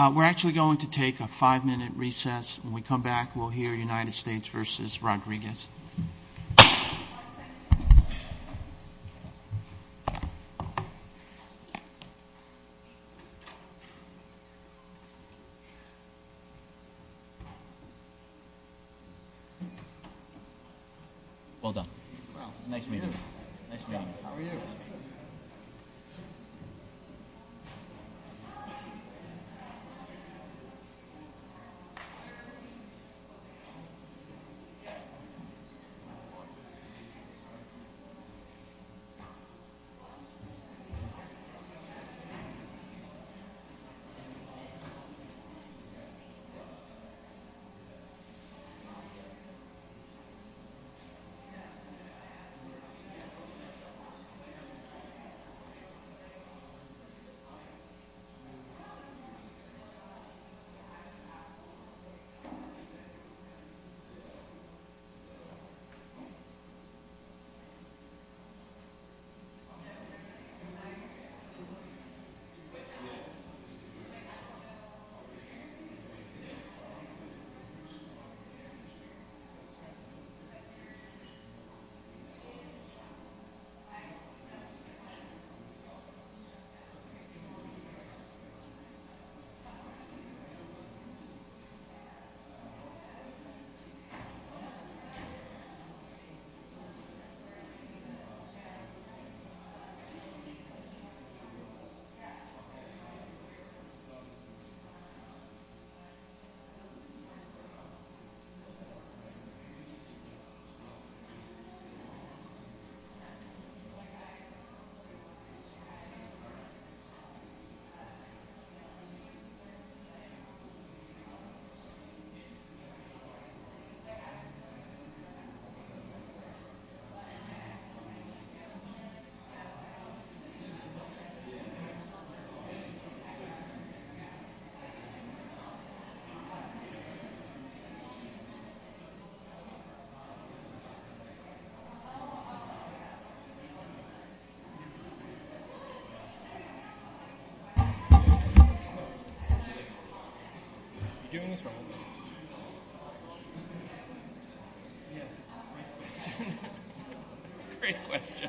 We're actually going to take a five-minute recess. When we come back, we'll hear United States v. Rodriguez. Well done. Nice meeting you. Nice meeting you. How are you? Thank you. Thank you. How are you? Good. Good. Good. Good.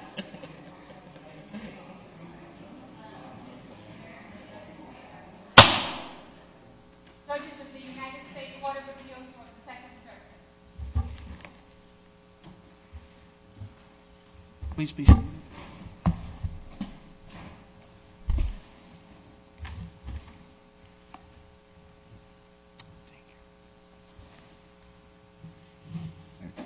Please be seated. Thank you. Thank you. Thank you.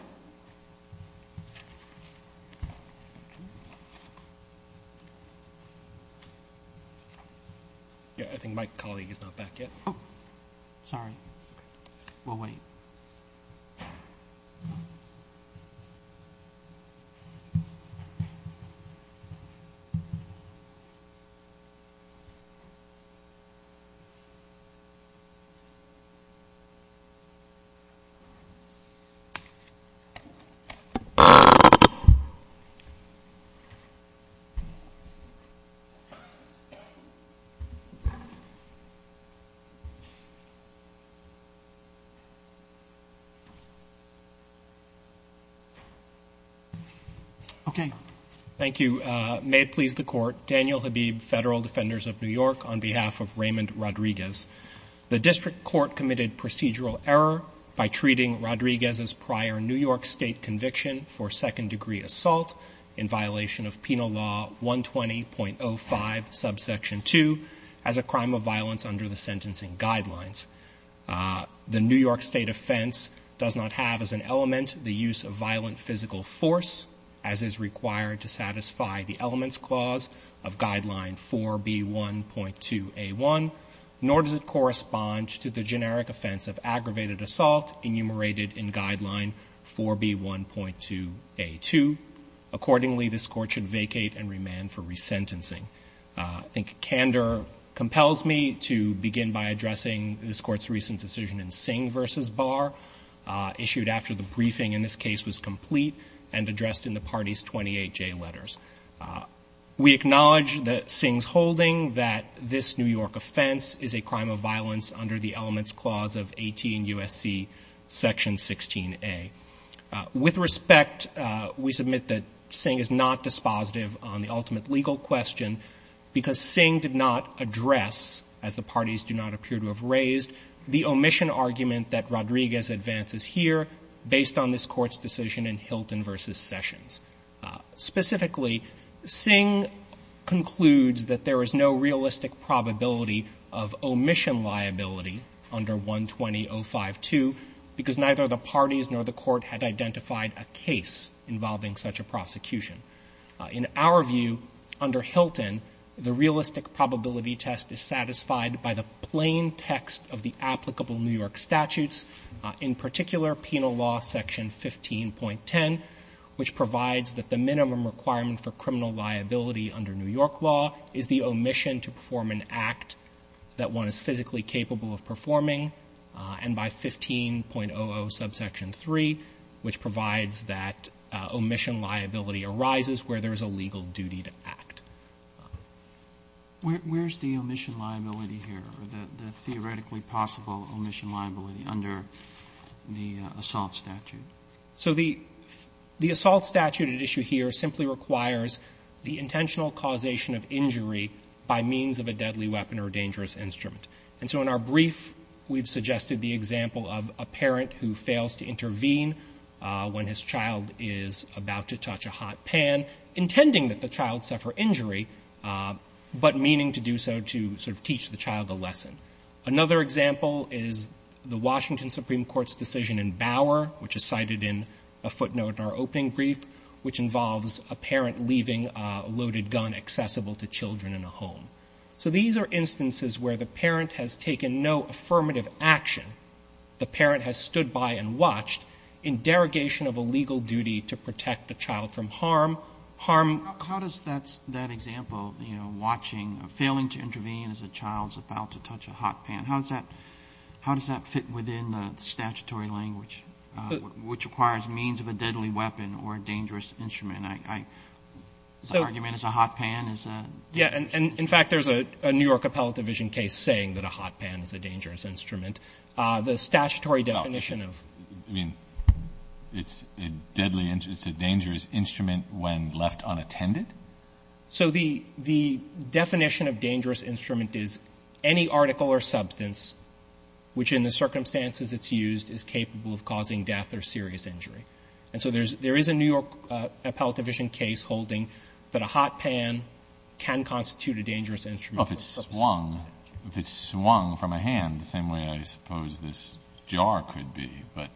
Yeah, I think my colleague is not back yet. Okay. Thank you. May it please the Court. Daniel Habib, Federal Defenders of New York, on behalf of Raymond Rodriguez. The District Court committed procedural error by treating Rodriguez's prior New York State conviction for second-degree assault in violation of Penal Law 120.05, subsection 2, as a crime of violence under the sentencing guidelines. The New York State offense does not have as an element the use of violent physical force, as is required to satisfy the elements clause of Guideline 4B1.2a1, nor does it correspond to the generic offense of aggravated assault enumerated in Guideline 4B1.2a2. Accordingly, this Court should vacate and remand for resentencing. I think candor compels me to begin by addressing this Court's recent decision in Singh v. Barr, issued after the briefing in this case was complete and addressed in the party's 28J letters. We acknowledge that Singh's holding that this New York offense is a crime of violence under the elements clause of 18 U.S.C. section 16a. With respect, we submit that Singh is not dispositive on the ultimate legal question, because Singh did not address, as the parties do not appear to have raised, the omission argument that Rodriguez advances here based on this Court's decision in Hilton v. Sessions. Specifically, Singh concludes that there is no realistic probability of omission liability under 120.052, because neither the parties nor the Court had identified a case involving such a prosecution. In our view, under Hilton, the realistic probability test is satisfied by the plain text of the applicable New York statutes, in particular, Penal Law section 15.10, which provides that the minimum requirement for criminal liability under New York law is the omission to perform an act that one is physically capable of performing, and by 15.00 subsection 3, which provides that omission liability arises where there is a legal duty to act. Roberts, where is the omission liability here, the theoretically possible omission liability under the assault statute? So the assault statute at issue here simply requires the intentional causation of injury by means of a deadly weapon or dangerous instrument. And so in our brief, we've suggested the example of a parent who fails to intervene when his child is about to touch a hot pan, intending that the child suffer injury, but meaning to do so to sort of teach the child a lesson. Another example is the Washington Supreme Court's decision in Bauer, which is cited in a footnote in our opening brief, which involves a parent leaving a loaded gun accessible to children in a home. So these are instances where the parent has taken no affirmative action, the parent has stood by and watched, in derogation of a legal duty to protect the child from harm, harm. Roberts, how does that example, you know, watching, failing to intervene as a child is about to touch a hot pan, how does that fit within the statutory language, which requires means of a deadly weapon or a dangerous instrument? I argue it's a hot pan is a dangerous instrument. In fact, there's a New York Appellate Division case saying that a hot pan is a dangerous instrument. The statutory definition of the child is a dangerous instrument when left unattended. So the definition of dangerous instrument is any article or substance which in the circumstances it's used is capable of causing death or serious injury. And so there is a New York Appellate Division case holding that a hot pan can constitute a dangerous instrument for the purposes of this statute. If it's swung from a hand, the same way I suppose this jar could be, but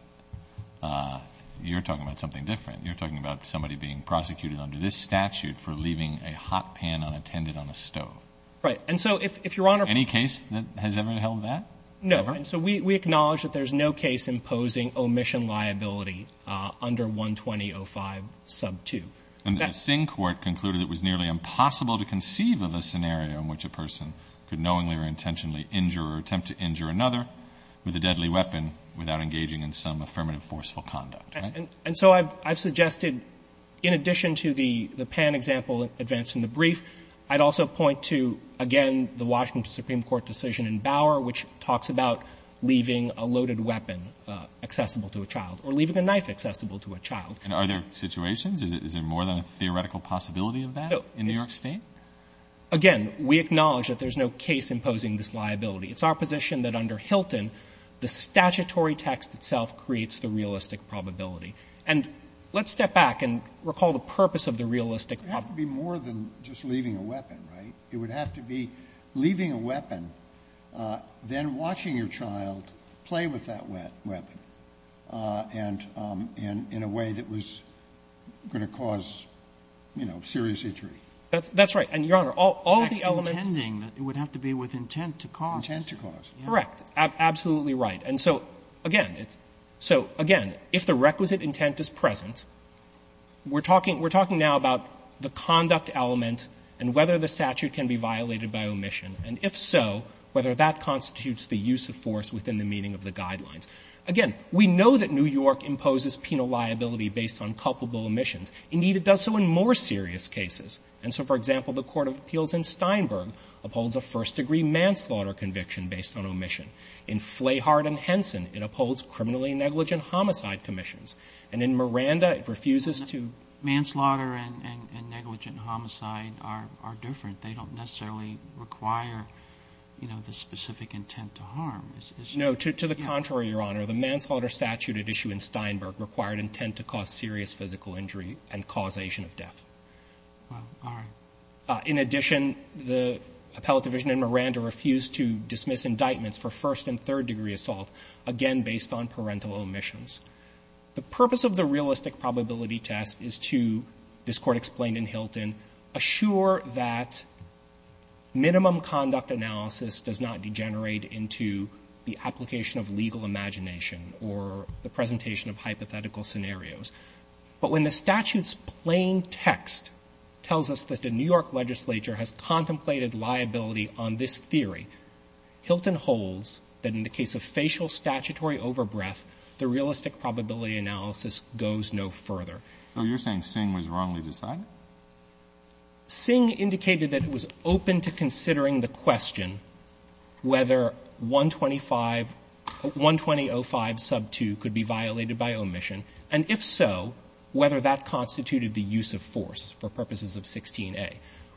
you're talking about something different. You're talking about somebody being prosecuted under this statute for leaving a hot pan unattended on a stove. Right. And so if Your Honor ---- Any case that has ever held that? No. And so we acknowledge that there's no case imposing omission liability under 12005 sub 2. And the Singh Court concluded it was nearly impossible to conceive of a scenario in which a person could knowingly or intentionally injure or attempt to injure another with a deadly weapon without engaging in some affirmative forceful conduct. And so I've suggested, in addition to the pan example advanced in the brief, I'd also point to, again, the Washington Supreme Court decision in Bauer which talks about leaving a loaded weapon accessible to a child or leaving a knife accessible to a child. And are there situations? Is there more than a theoretical possibility of that in New York State? Again, we acknowledge that there's no case imposing this liability. It's our position that under Hilton, the statutory text itself creates the realistic probability. And let's step back and recall the purpose of the realistic ---- It would have to be more than just leaving a weapon, right? It would have to be leaving a weapon, then watching your child play with that weapon and in a way that was going to cause, you know, serious injury. That's right. And, Your Honor, all the elements ---- Intending that it would have to be with intent to cause. Intent to cause. Correct. Absolutely right. And so, again, it's ---- so, again, if the requisite intent is present, we're talking now about the conduct element and whether the statute can be violated by omission, and if so, whether that constitutes the use of force within the meaning of the guidelines. Again, we know that New York imposes penal liability based on culpable omissions. Indeed, it does so in more serious cases. And so, for example, the court of appeals in Steinberg upholds a first-degree manslaughter conviction based on omission. In Flahart and Henson, it upholds criminally negligent homicide commissions. And in Miranda, it refuses to ---- Manslaughter and negligent homicide are different. They don't necessarily require, you know, the specific intent to harm. No. To the contrary, Your Honor. The manslaughter statute at issue in Steinberg required intent to cause serious physical injury and causation of death. All right. In addition, the appellate division in Miranda refused to dismiss indictments for first- and third-degree assault, again, based on parental omissions. The purpose of the realistic probability test is to, this Court explained in Hilton, assure that minimum conduct analysis does not degenerate into the application of legal imagination or the presentation of hypothetical scenarios. But when the statute's plain text tells us that the New York legislature has contemplated liability on this theory, Hilton holds that in the case of facial statutory overbreath, the realistic probability analysis goes no further. So you're saying Singh was wrongly decided? Singh indicated that it was open to considering the question whether 125 120.05 sub 2 could be violated by omission, and if so, whether that constituted the use of force for purposes of 16a.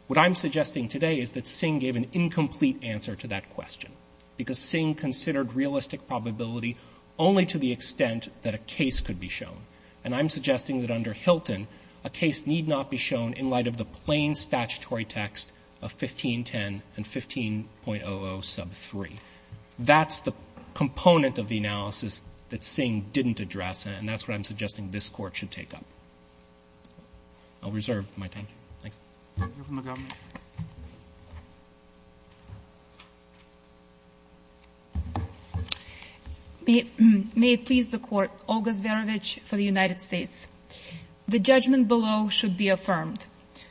What I'm suggesting today is that Singh gave an incomplete answer to that question, because Singh considered realistic probability only to the extent that a case could be shown, and I'm suggesting that under Hilton, a case need not be shown in light of the plain statutory text of 1510 and 15.00 sub 3. That's the component of the analysis that Singh didn't address, and that's what I'm suggesting this Court should take up. I'll reserve my time. Thanks. You're from the government. May it please the Court. Olga Zverevich for the United States. The judgment below should be affirmed.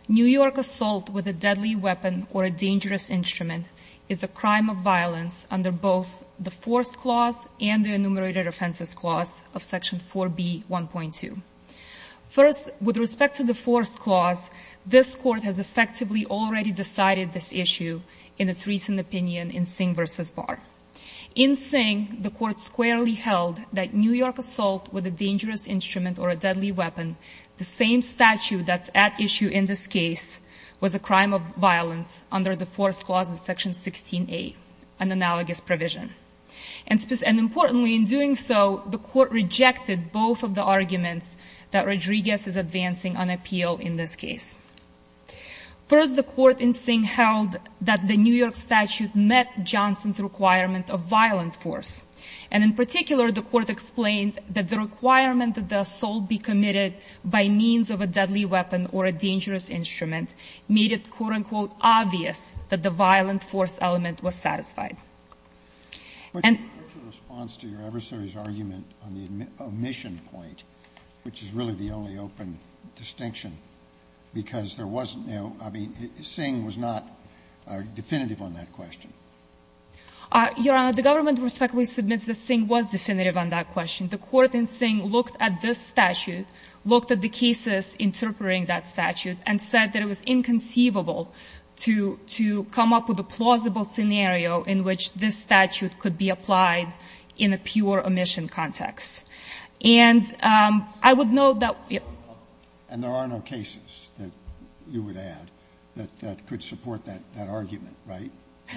New York assault with a deadly weapon or a dangerous instrument is a crime of violence under both the force clause and the enumerated offenses clause of section 4b. 1.2. First, with respect to the force clause, this Court has effectively already decided this issue in its recent opinion in Singh v. Barr. In Singh, the Court squarely held that New York assault with a dangerous instrument or a deadly weapon, the same statute that's at issue in this case, was a crime of violence under the force clause in section 16a, an analogous provision. And importantly, in doing so, the Court rejected both of the arguments that Rodriguez is advancing on appeal in this case. First, the Court in Singh held that the New York statute met Johnson's requirement of violent force, and in particular, the Court explained that the requirement that the assault be committed by means of a deadly weapon or a dangerous instrument made it, quote, unquote, obvious that the violent force element was satisfied. And the Court in Singh looked at this statute, looked at the cases interpreting that statute, and said that it was insufficient to make a definitive argument on the omission point, which is really the only open distinction, because there wasn't no – I mean, Singh was not definitive on that question. Your Honor, the government, respectively, submits that Singh was definitive on that question. The Court in Singh looked at this statute, looked at the cases interpreting that statute, and said that it was inconceivable to – to come up with a plausible scenario in which this statute could be applied in a pure omission context. And I would note that we have no – And there are no cases, you would add, that could support that argument, right?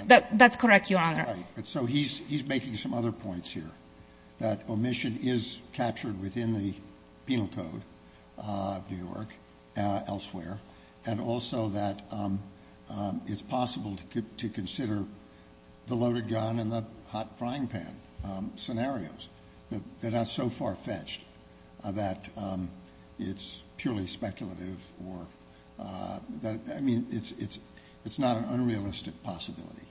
That's correct, Your Honor. Right. So he's making some other points here, that omission is captured within the penal code of New York, elsewhere, and also that it's possible to consider the loaded gun and the hot frying pan scenarios. They're not so far-fetched that it's purely speculative or – I mean, it's not an omission possibility.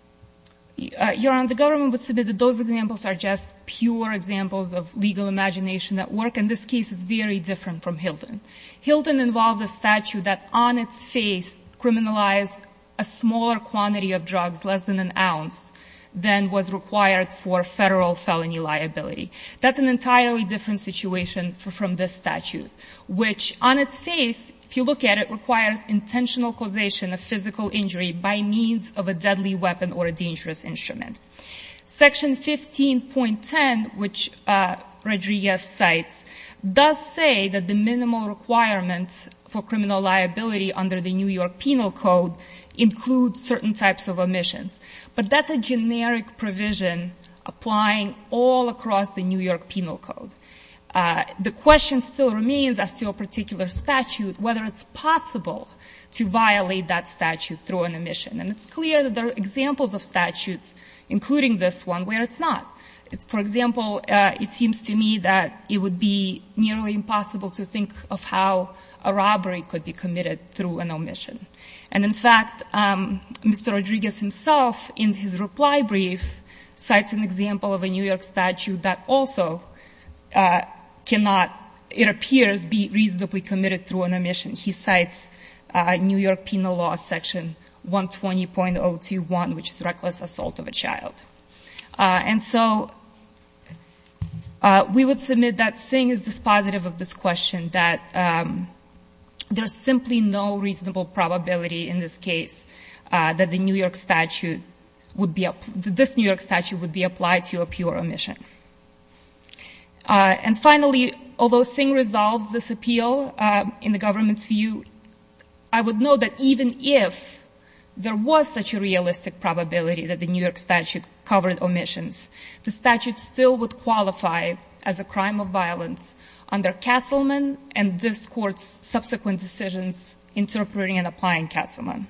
Your Honor, the government would submit that those examples are just pure examples of legal imagination at work, and this case is very different from Hilton. Hilton involves a statute that, on its face, criminalized a smaller quantity of drugs, less than an ounce, than was required for federal felony liability. That's an entirely different situation from this statute, which, on its face, if you look at it, requires intentional causation of physical injury by means of a deadly weapon or a dangerous instrument. Section 15.10, which Rodriguez cites, does say that the minimal requirements for criminal liability under the New York Penal Code include certain types of omissions. But that's a generic provision applying all across the New York Penal Code. The question still remains as to a particular statute, whether it's possible to violate that statute through an omission. And it's clear that there are examples of statutes, including this one, where it's not. For example, it seems to me that it would be nearly impossible to think of how a robbery could be committed through an omission. And in fact, Mr. Rodriguez himself, in his reply brief, cites an example of a New York statute that also cannot, it appears, be reasonably committed through an omission. He cites New York Penal Law, Section 120.021, which is reckless assault of a child. And so we would submit that seeing as this positive of this question, that there is simply no reasonable probability in this case that the New York statute would be up to this New York statute. And finally, although Singh resolves this appeal in the government's view, I would know that even if there was such a realistic probability that the New York statute covered omissions, the statute still would qualify as a crime of violence under Castleman and this Court's subsequent decisions interpreting and applying Castleman.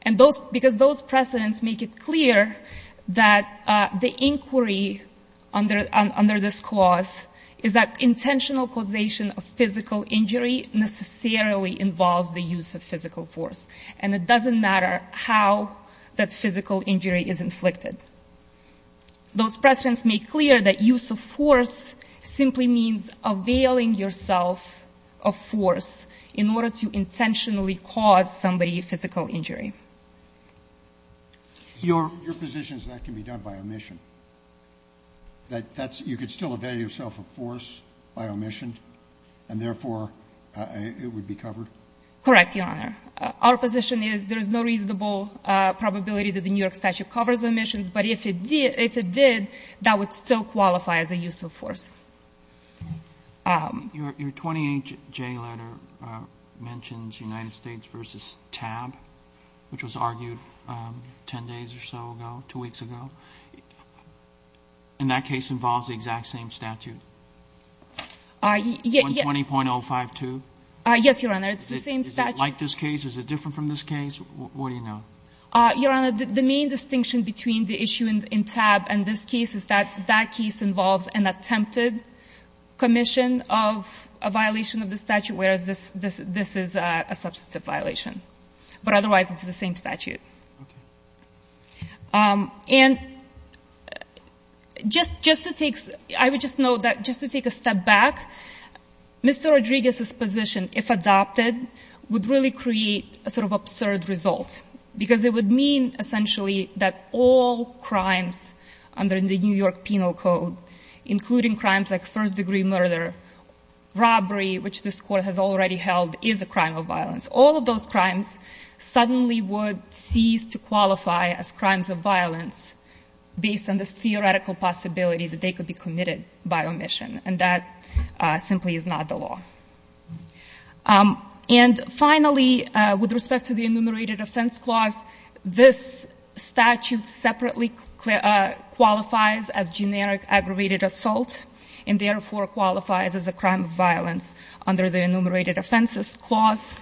And because those precedents make it clear that the inquiry under this clause is that intentional causation of physical injury necessarily involves the use of physical force. And it doesn't matter how that physical injury is inflicted. Those precedents make clear that use of force simply means availing yourself of force in order to intentionally cause somebody physical injury. Your position is that can be done by omission? That that's you could still avail yourself of force by omission and, therefore, it would be covered? Correct, Your Honor. Our position is there is no reasonable probability that the New York statute covers omissions, but if it did, if it did, that would still qualify as a use of force. Your 28J letter mentions United States v. TAB, which was argued 10 days or so ago, two weeks ago. And that case involves the exact same statute? 120.052? Yes, Your Honor. It's the same statute. Is it like this case? Is it different from this case? What do you know? Your Honor, the main distinction between the issue in TAB and this case is that that case involves an attempted commission of a violation of the statute, whereas this is a substantive violation. But otherwise, it's the same statute. And just to take, I would just note that just to take a step back, Mr. Rodriguez's position, if adopted, would really create a sort of absurd result, because it would mean, essentially, that all crimes under the New York Penal Code, including crimes like first-degree murder, robbery, which this Court has already held is a crime of violence, all of those crimes suddenly would cease to qualify as crimes of violence based on this theoretical possibility that they could be committed by omission. And that simply is not the law. And finally, with respect to the enumerated offense clause, this statute separately qualifies as generic aggravated assault, and therefore qualifies as a crime of violence under the enumerated offenses clause.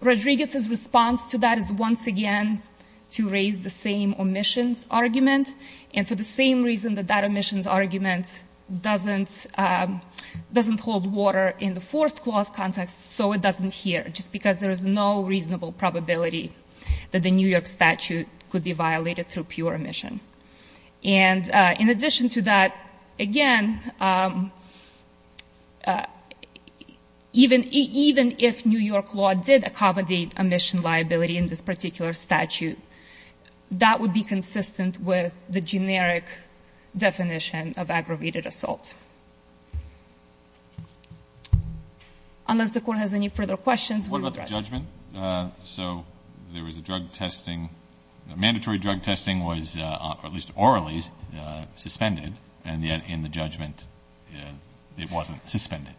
Rodriguez's response to that is once again to raise the same omissions argument, and for the same reason that that omissions argument doesn't hold water in the forced clause context, so it doesn't here, just because there is no reasonable probability that the New York statute could be violated through pure omission. And in addition to that, again, even if New York law did accommodate omission liability in this particular statute, that would be consistent with the generic definition of aggravated assault. Unless the Court has any further questions, we will address. What about the judgment? So there was a drug testing, mandatory drug testing was, at least orally, suspended, and yet in the judgment it wasn't suspended,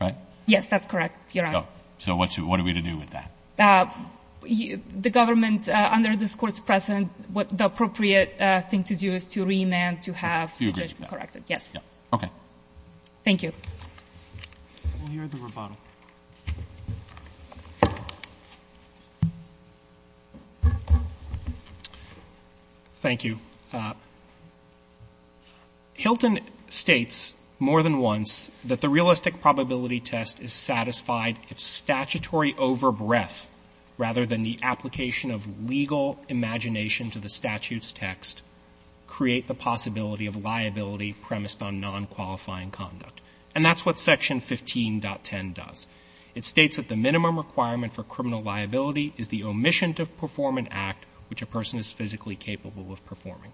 right? Yes, that's correct, Your Honor. So what are we to do with that? The government, under this Court's precedent, the appropriate thing to do is to remand to have the judgment corrected, yes. Okay. Thank you. We'll hear the rebuttal. Thank you. Hilton states more than once that the realistic probability test is satisfied if statutory over-breath, rather than the application of legal imagination to the statute's text, create the possibility of liability premised on non-qualifying conduct. And that's what Section 15.10 does. It states that the minimum requirement for criminal liability is the omission to perform an act which a person is physically capable of performing.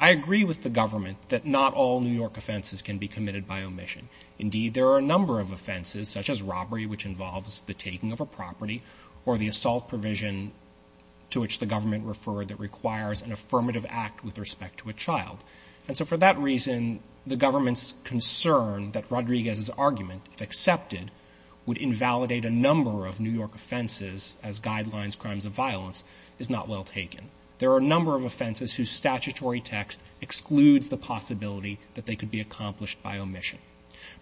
I agree with the government that not all New York offenses can be committed by omission. Indeed, there are a number of offenses, such as robbery, which involves the taking of a property, or the assault provision to which the government referred that requires an affirmative act with respect to a child. And so for that reason, the government's concern that Rodriguez's argument, if accepted, would invalidate a number of New York offenses as guidelines, crimes of violence, is not well taken. There are a number of offenses whose statutory text excludes the possibility that they could be accomplished by omission.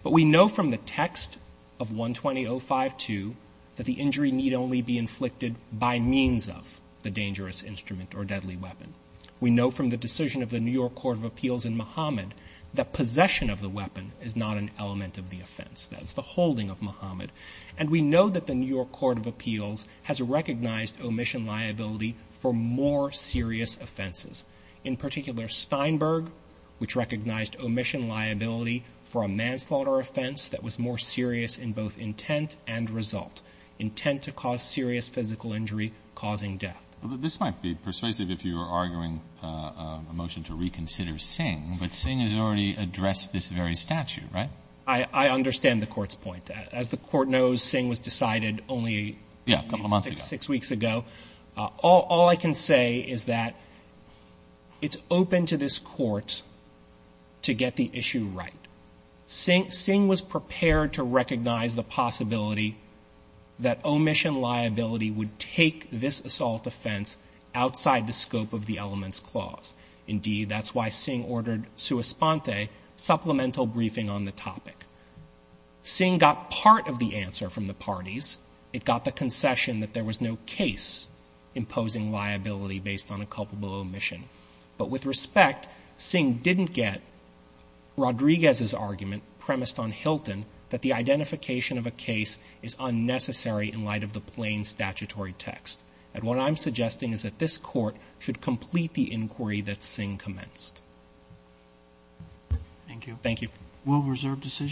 But we know from the text of 120.052 that the injury need only be inflicted by means of the dangerous instrument or deadly weapon. We know from the decision of the New York Court of Appeals in Muhammad that possession of the weapon is not an element of the offense. That is the holding of Muhammad. And we know that the New York Court of Appeals has recognized omission liability for more serious offenses. In particular, Steinberg, which recognized omission liability for a manslaughter offense that was more serious in both intent and result, intent to cause serious physical injury causing death. But this might be persuasive if you were arguing a motion to reconsider Singh, but Singh has already addressed this very statute, right? I understand the Court's point. As the Court knows, Singh was decided only a couple of months ago, six weeks ago. All I can say is that it's open to this Court to get the issue right. Singh was prepared to recognize the possibility that omission liability would take this assault offense outside the scope of the elements clause. Indeed, that's why Singh ordered sua sponte, supplemental briefing on the topic. Singh got part of the answer from the parties. It got the concession that there was no case imposing liability based on a culpable omission. But with respect, Singh didn't get Rodriguez's argument premised on Hilton that the identification of a case is unnecessary in light of the plain statutory text. And what I'm suggesting is that this Court should complete the inquiry that Singh commenced. Thank you. Thank you. Will reserve decision.